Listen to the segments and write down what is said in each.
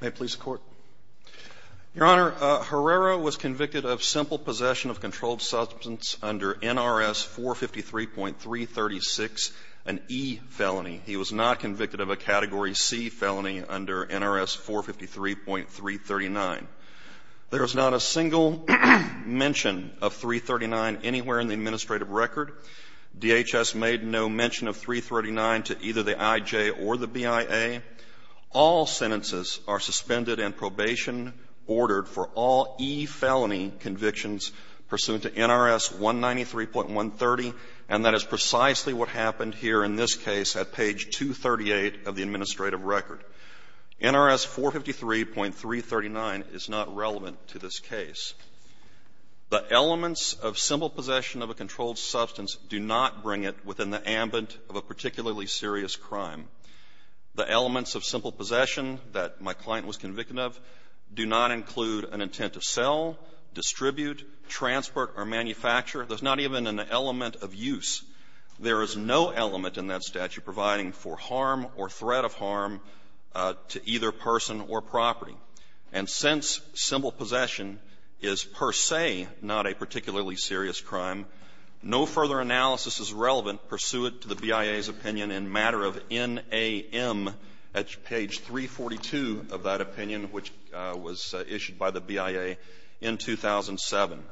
May it please the Court. Your Honor, Herrera was convicted of simple possession of controlled substance under NRS 453.336, an E felony. He was not convicted of a Category C felony under NRS 453.339. There is not a single mention of 339 anywhere in the administrative record. DHS made no mention of 339 to either the I.J. or the BIA. All sentences are suspended and probation ordered for all E felony convictions pursuant to NRS 193.130, and that is precisely what happened here in this case at page 238 of the administrative record. NRS 453.339 is not relevant to this case. The elements of simple possession of a controlled substance do not bring it within the ambit of a particularly serious crime. The elements of simple possession that my client was convicted of do not include an intent to sell, distribute, transport, or manufacture. There's not even an element of use. There is no element in that statute providing for harm or threat of harm to either person or property. And since simple possession is per se not a particularly serious crime, no further analysis is relevant pursuant to the BIA's opinion in matter of NAM at page 342 of that opinion, which was issued by the BIA in 2007.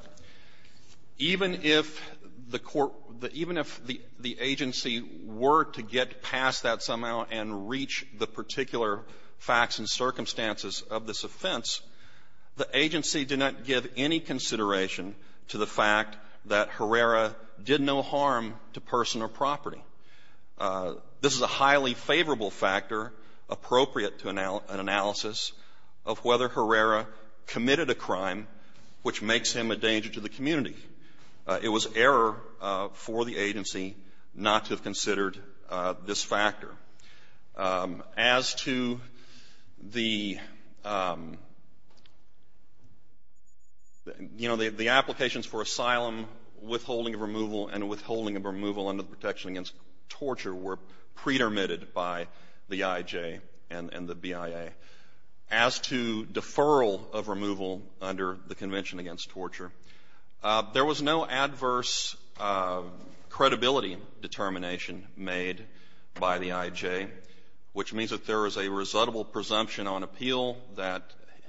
Even if the court the even if the agency were to get past that somehow and reach the particular facts and circumstances of this offense, the agency did not give any consideration to the fact that Herrera did no harm to person or property. This is a highly favorable factor appropriate to an analysis of whether Herrera committed a crime which makes him a danger to the community. It was error for the agency not to have considered this factor. As to the other You know, the applications for asylum, withholding of removal, and withholding of removal under the Protection Against Torture were pre-dermitted by the IJ and the BIA. As to deferral of removal under the Convention Against Torture, there was no adverse credibility determination made by the IJ, which means that there is a resutable presumption on appeal that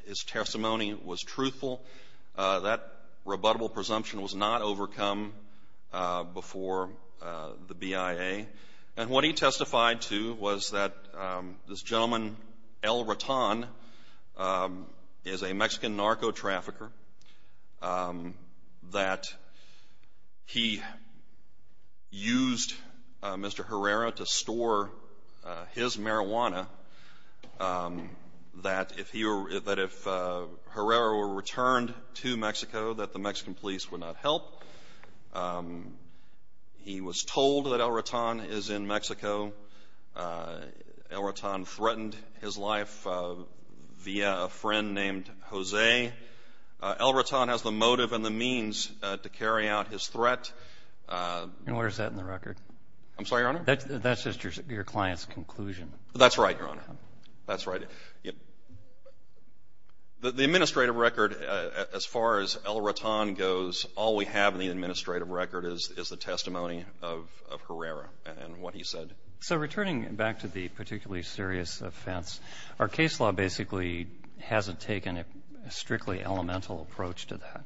his testimony was truthful. That rebuttable presumption was not overcome before the BIA. And what he testified to was that this gentleman, El Raton, is a Mexican He was told that El Raton is in Mexico. El Raton threatened his life via a friend named Jose. El Raton has the motive and the means to carry out his threat. And where is that in the record? I'm sorry, Your Honor? That's just your client's conclusion. That's right, Your Honor. That's right. The administrative record, as far as El Raton goes, all we have in the administrative record is the testimony of Herrera and what he said. So returning back to the particularly serious offense, our case law basically hasn't taken a strictly elemental approach to that.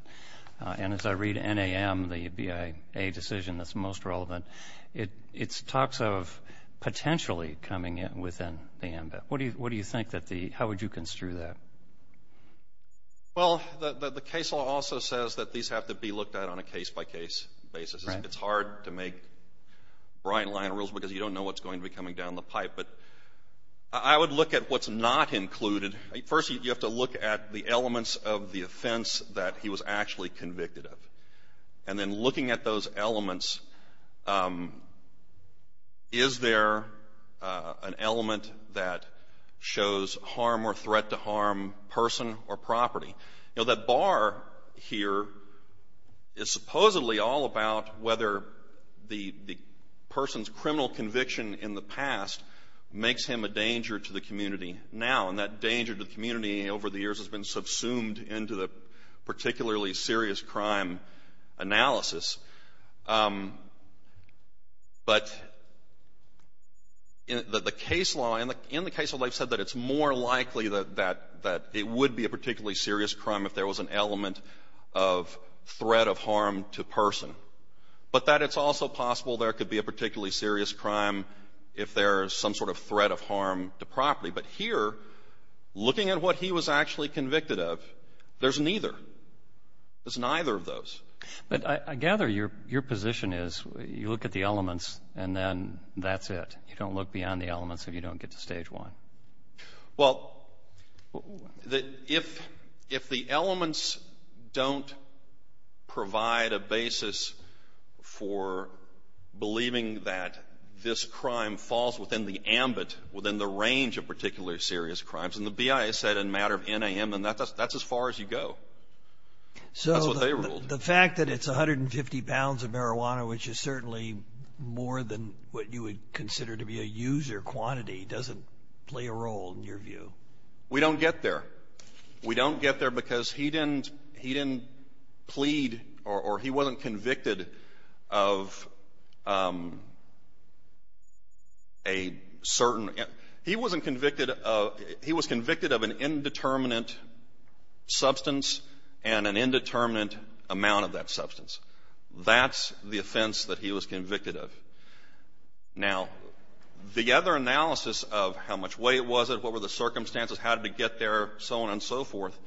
And as I read NAM, the BIA decision that's most relevant, it talks of potentially coming in within NAM. What do you think that the How would you construe that? Well, the case law also says that these have to be looked at on a case-by-case basis. It's hard to make bright line rules because you don't know what's going to be coming down the pipe. But I would look at what's not included. First, you have to look at the elements of the offense that he was actually convicted of. And then looking at those elements, is there an element that shows harm or threat to harm, person or property? You know, that bar here is supposedly all about whether the person's criminal conviction in the past makes him a danger to the community now. And that danger to the community over the years has been subsumed into the particularly serious crime analysis. But the case law, in the case law, they've said that it's more likely that it would be a particularly serious crime if there was an element of threat of harm to person, but that it's also possible there could be a particularly serious crime if there is some sort of threat of harm to property. But here, looking at what he was actually convicted of, there's neither. There's neither of those. But I gather your position is you look at the elements and then that's it. You don't look beyond the elements if you don't get to Stage 1. Well, if the elements don't provide a basis for believing that this crime falls within the ambit, within the range of particularly serious crimes, and the BIA said that's as far as you go. That's what they ruled. So the fact that it's 150 pounds of marijuana, which is certainly more than what you would consider to be a user quantity, doesn't play a role in your view? We don't get there. We don't get there because he didn't plead or he wasn't convicted of a certain he wasn't convicted of he was convicted of an indeterminate substance and an indeterminate amount of that substance. That's the offense that he was convicted of. Now, the other analysis of how much weight was it, what were the circumstances, how did it get there, so on and so forth,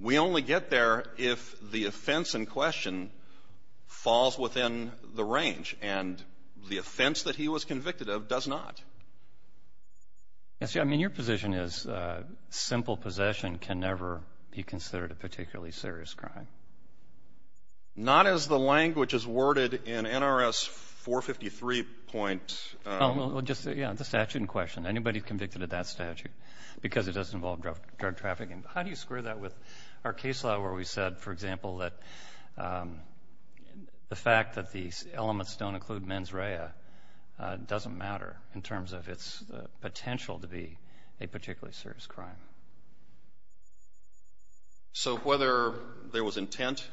we only get there if the offense in question falls within the range, and the offense that he was convicted of does not. I mean, your position is simple possession can never be considered a particularly serious crime. Not as the language is worded in NRS 453. Well, just the statute in question. Anybody convicted of that statute, because it does involve drug trafficking. How do you square that with our case law where we said, for example, that the fact that these elements don't include mens rea doesn't matter in terms of its potential to be a particularly serious crime? So whether there was intent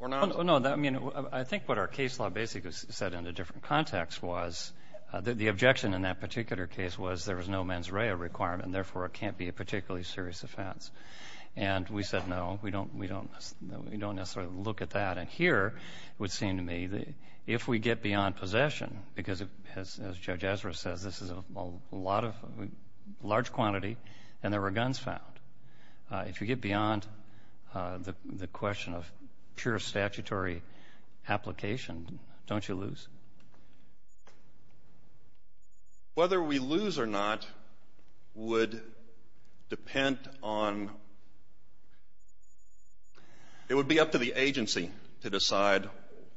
or not? No. I mean, I think what our case law basically said in a different context was that the objection in that particular case was there was no mens rea requirement, and therefore it can't be a particularly serious offense. And we said, no, we don't necessarily look at that. And here, it would seem to me, if we get beyond possession, because as Judge Ezra says, this is a lot of large quantity, and there were guns found. If you get beyond the question of pure statutory application, don't you lose? Whether we lose or not would depend on — it would be up to the agency to decide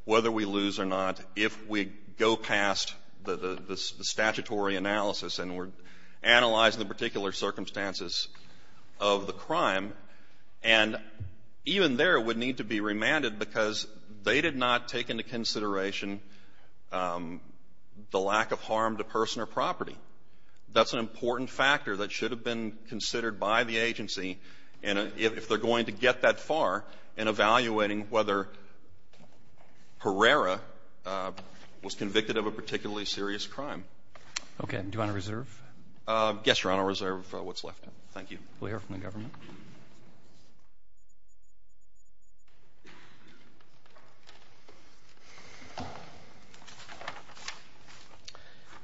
whether we lose or not if we go past the statutory analysis and we're analyzing the particular circumstances of the crime, and even there, it would need to be remanded because they did not take into consideration the lack of harm to person or property. That's an important factor that should have been considered by the agency if they're going to get that far in evaluating whether Herrera was convicted of a particularly serious crime. Okay. Do you want to reserve? Yes, Your Honor. Reserve what's left. Thank you. We'll hear from the government.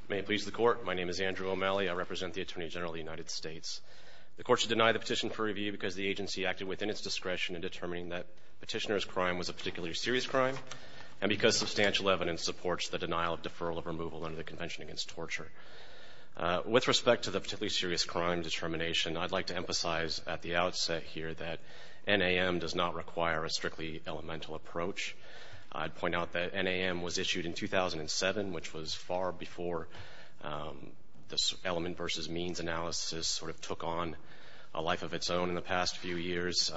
May it please the Court. My name is Andrew O'Malley. I represent the Attorney General of the United States. The Court should deny the petition for review because the agency acted within its discretion in determining that Petitioner's crime was a particularly serious crime and because substantial evidence supports the denial of deferral of removal under the Convention Against Torture. With respect to the particularly serious crime determination, I'd like to emphasize at the outset here that NAM does not require a strictly elemental approach. I'd point out that NAM was issued in 2007, which was far before this element versus means analysis sort of took on a life of its own in the past few years.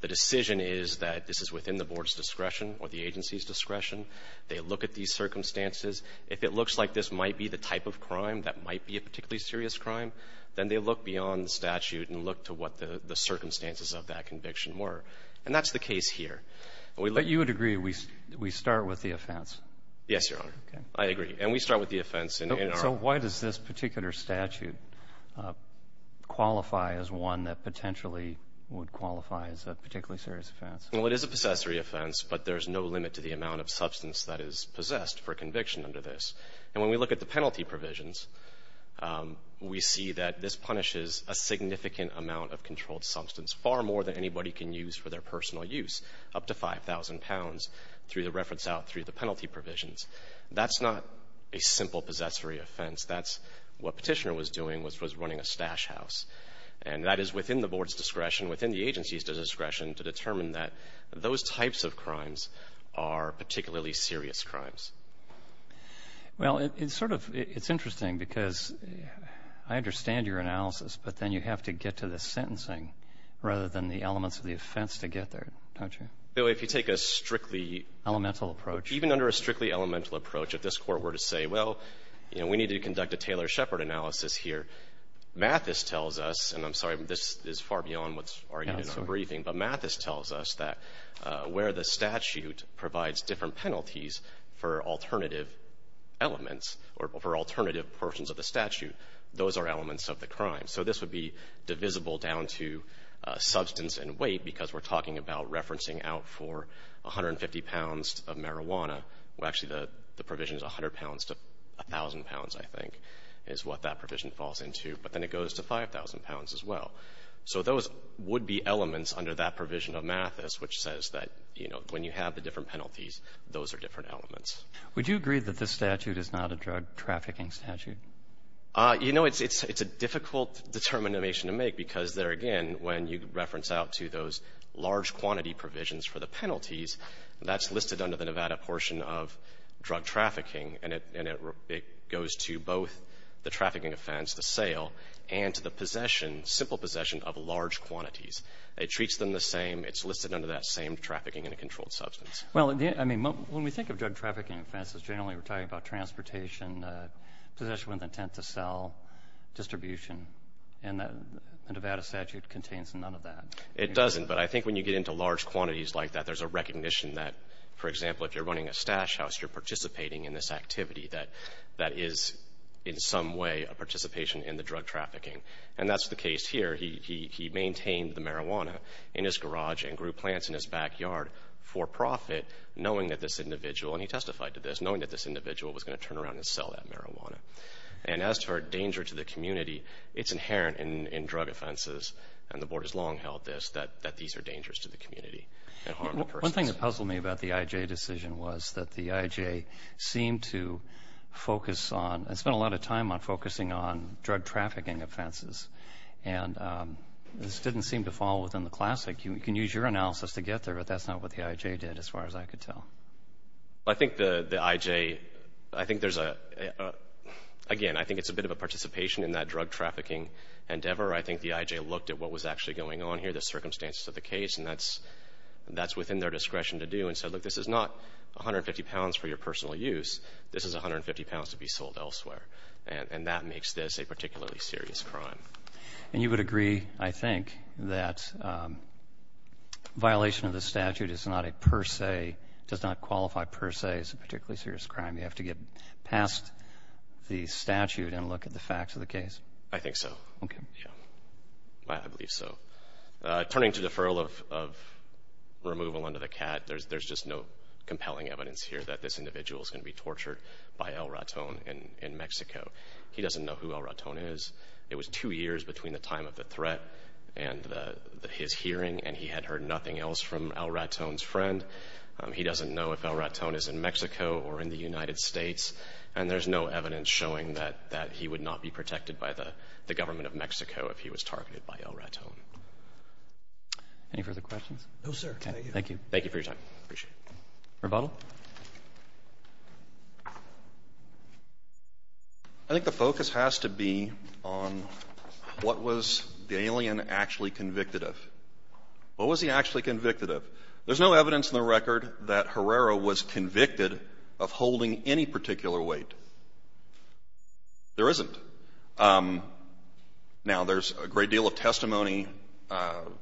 The decision is that this is within the Board's discretion or the agency's discretion. They look at these circumstances. If it looks like this might be the type of crime that might be a particularly serious crime, then they look beyond the statute and look to what the circumstances of that conviction were. And that's the case here. But you would agree we start with the offense? Yes, Your Honor. Okay. I agree. And we start with the offense. So why does this particular statute qualify as one that potentially would qualify as a particularly serious offense? Well, it is a possessory offense, but there's no limit to the amount of substance that is possessed for conviction under this. And when we look at the penalty provisions, we see that this punishes a significant amount of controlled substance, far more than anybody can use for their personal use, up to 5,000 pounds, through the reference out through the penalty provisions. That's not a simple possessory offense. That's what Petitioner was doing, which was running a stash house. And that is within the Board's discretion, within the agency's discretion, to determine that those types of crimes are particularly serious crimes. Well, it's sort of — it's interesting, because I understand your analysis, but then you have to get to the sentencing rather than the elements of the offense to get there, don't you? If you take a strictly — Elemental approach. Even under a strictly elemental approach, if this Court were to say, well, you know, we need to conduct a Taylor-Shepard analysis here, Mathis tells us — and I'm sorry, this is far beyond what's argued in our briefing — but Mathis tells us that where the statute provides different penalties for alternative elements, or for alternative portions of the statute, those are elements of the crime. So this would be divisible down to substance and weight, because we're talking about referencing out for 150 pounds of marijuana. Well, actually, the provision is 100 pounds to 1,000 pounds, I think, is what that provision falls into, but then it goes to 5,000 pounds as well. So those would be elements under that provision of Mathis, which says that, you know, when you have the different penalties, those are different elements. Would you agree that this statute is not a drug-trafficking statute? You know, it's a difficult determination to make, because there, again, when you reference out to those large-quantity provisions for the penalties, that's listed under the trafficking offense, the sale, and to the possession, simple possession of large quantities. It treats them the same. It's listed under that same trafficking in a controlled substance. Well, I mean, when we think of drug-trafficking offenses, generally we're talking about transportation, possession with intent to sell, distribution. And the Nevada statute contains none of that. It doesn't. But I think when you get into large quantities like that, there's a recognition that, for example, if you're running a stash house, you're participating in this activity that that is in some way a participation in the drug trafficking. And that's the case here. He maintained the marijuana in his garage and grew plants in his backyard for profit, knowing that this individual, and he testified to this, knowing that this individual was going to turn around and sell that marijuana. And as to our danger to the community, it's inherent in drug offenses, and the Board has long held this, that these are dangerous to the community and harm to persons. One thing that puzzled me about the IJ decision was that the IJ seemed to focus on and spent a lot of time on focusing on drug-trafficking offenses. And this didn't seem to fall within the classic. You can use your analysis to get there, but that's not what the IJ did as far as I could tell. I think the IJ, I think there's a, again, I think it's a bit of a participation in that drug-trafficking endeavor. I think the IJ looked at what was actually going on here, the circumstances of the case, and that's within their discretion to do, and said, look, this is not 150 pounds for your personal use. This is 150 pounds to be sold elsewhere. And that makes this a particularly serious crime. And you would agree, I think, that violation of the statute is not a per se, does not qualify per se as a particularly serious crime. You have to get past the statute and look at the facts of the case. I think so. Okay. I believe so. Turning to deferral of removal under the CAT, there's just no compelling evidence here that this individual is going to be tortured by El Raton in Mexico. He doesn't know who El Raton is. It was two years between the time of the threat and his hearing, and he had heard nothing else from El Raton's friend. He doesn't know if El Raton is in Mexico or in the United States, and there's no evidence showing that he would not be protected by the government of Mexico if he was targeted by El Raton. Any further questions? No, sir. Okay. Thank you. Thank you for your time. I appreciate it. Rebuttal? I think the focus has to be on what was the alien actually convicted of. What was he actually convicted of? There's no evidence in the record that Herrera was convicted of holding any particular weight. There isn't. Now, there's a great deal of testimony that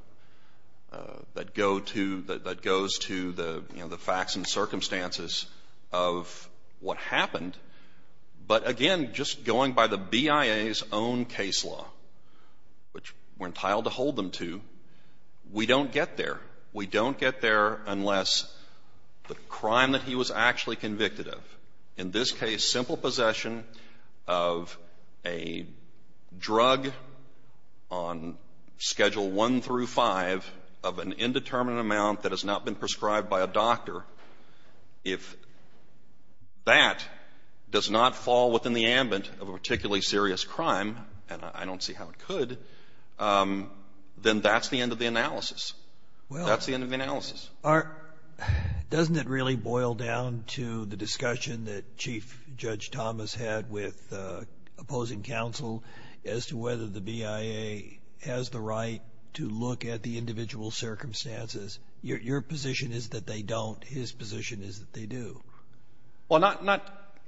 go to the facts and circumstances of what happened, but again, just going by the BIA's own case law, which we're entitled to hold them to, we don't get there. We don't get there unless the crime that he was actually convicted of, in this case, the simple possession of a drug on Schedule I through V of an indeterminate amount that has not been prescribed by a doctor, if that does not fall within the ambit of a particularly serious crime, and I don't see how it could, then that's the end of the analysis. That's the end of the analysis. Aren't — doesn't it really boil down to the discussion that Chief Judge Thomas had with opposing counsel as to whether the BIA has the right to look at the individual circumstances? Your position is that they don't. His position is that they do. Well, not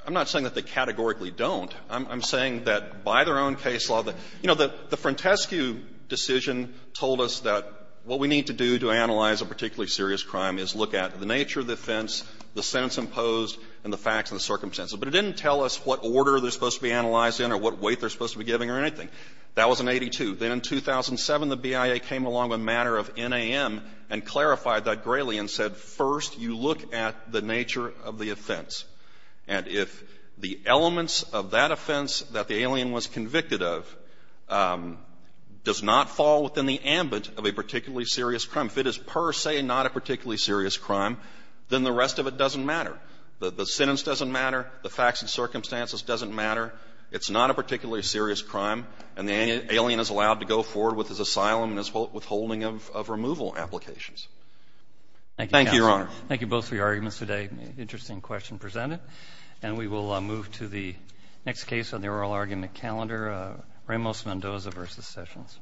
— I'm not saying that they categorically don't. I'm saying that by their own case law, you know, the Frantescu decision told us that what we need to do to analyze a particularly serious crime is look at the nature of the offense, the sentence imposed, and the facts and the circumstances. But it didn't tell us what order they're supposed to be analyzed in or what weight they're supposed to be giving or anything. That was in 82. Then in 2007, the BIA came along with a matter of NAM and clarified that greatly and said, first, you look at the nature of the offense. And if the elements of that offense that the alien was convicted of does not fall within the ambit of a particularly serious crime, if it is per se not a particularly serious crime, then the rest of it doesn't matter. The sentence doesn't matter. The facts and circumstances doesn't matter. It's not a particularly serious crime. And the alien is allowed to go forward with his asylum and his withholding of removal applications. Thank you, Your Honor. Thank you both for your arguments today. Interesting question presented. And we will move to the next case on the oral argument calendar, Ramos-Mendoza v. Sessions.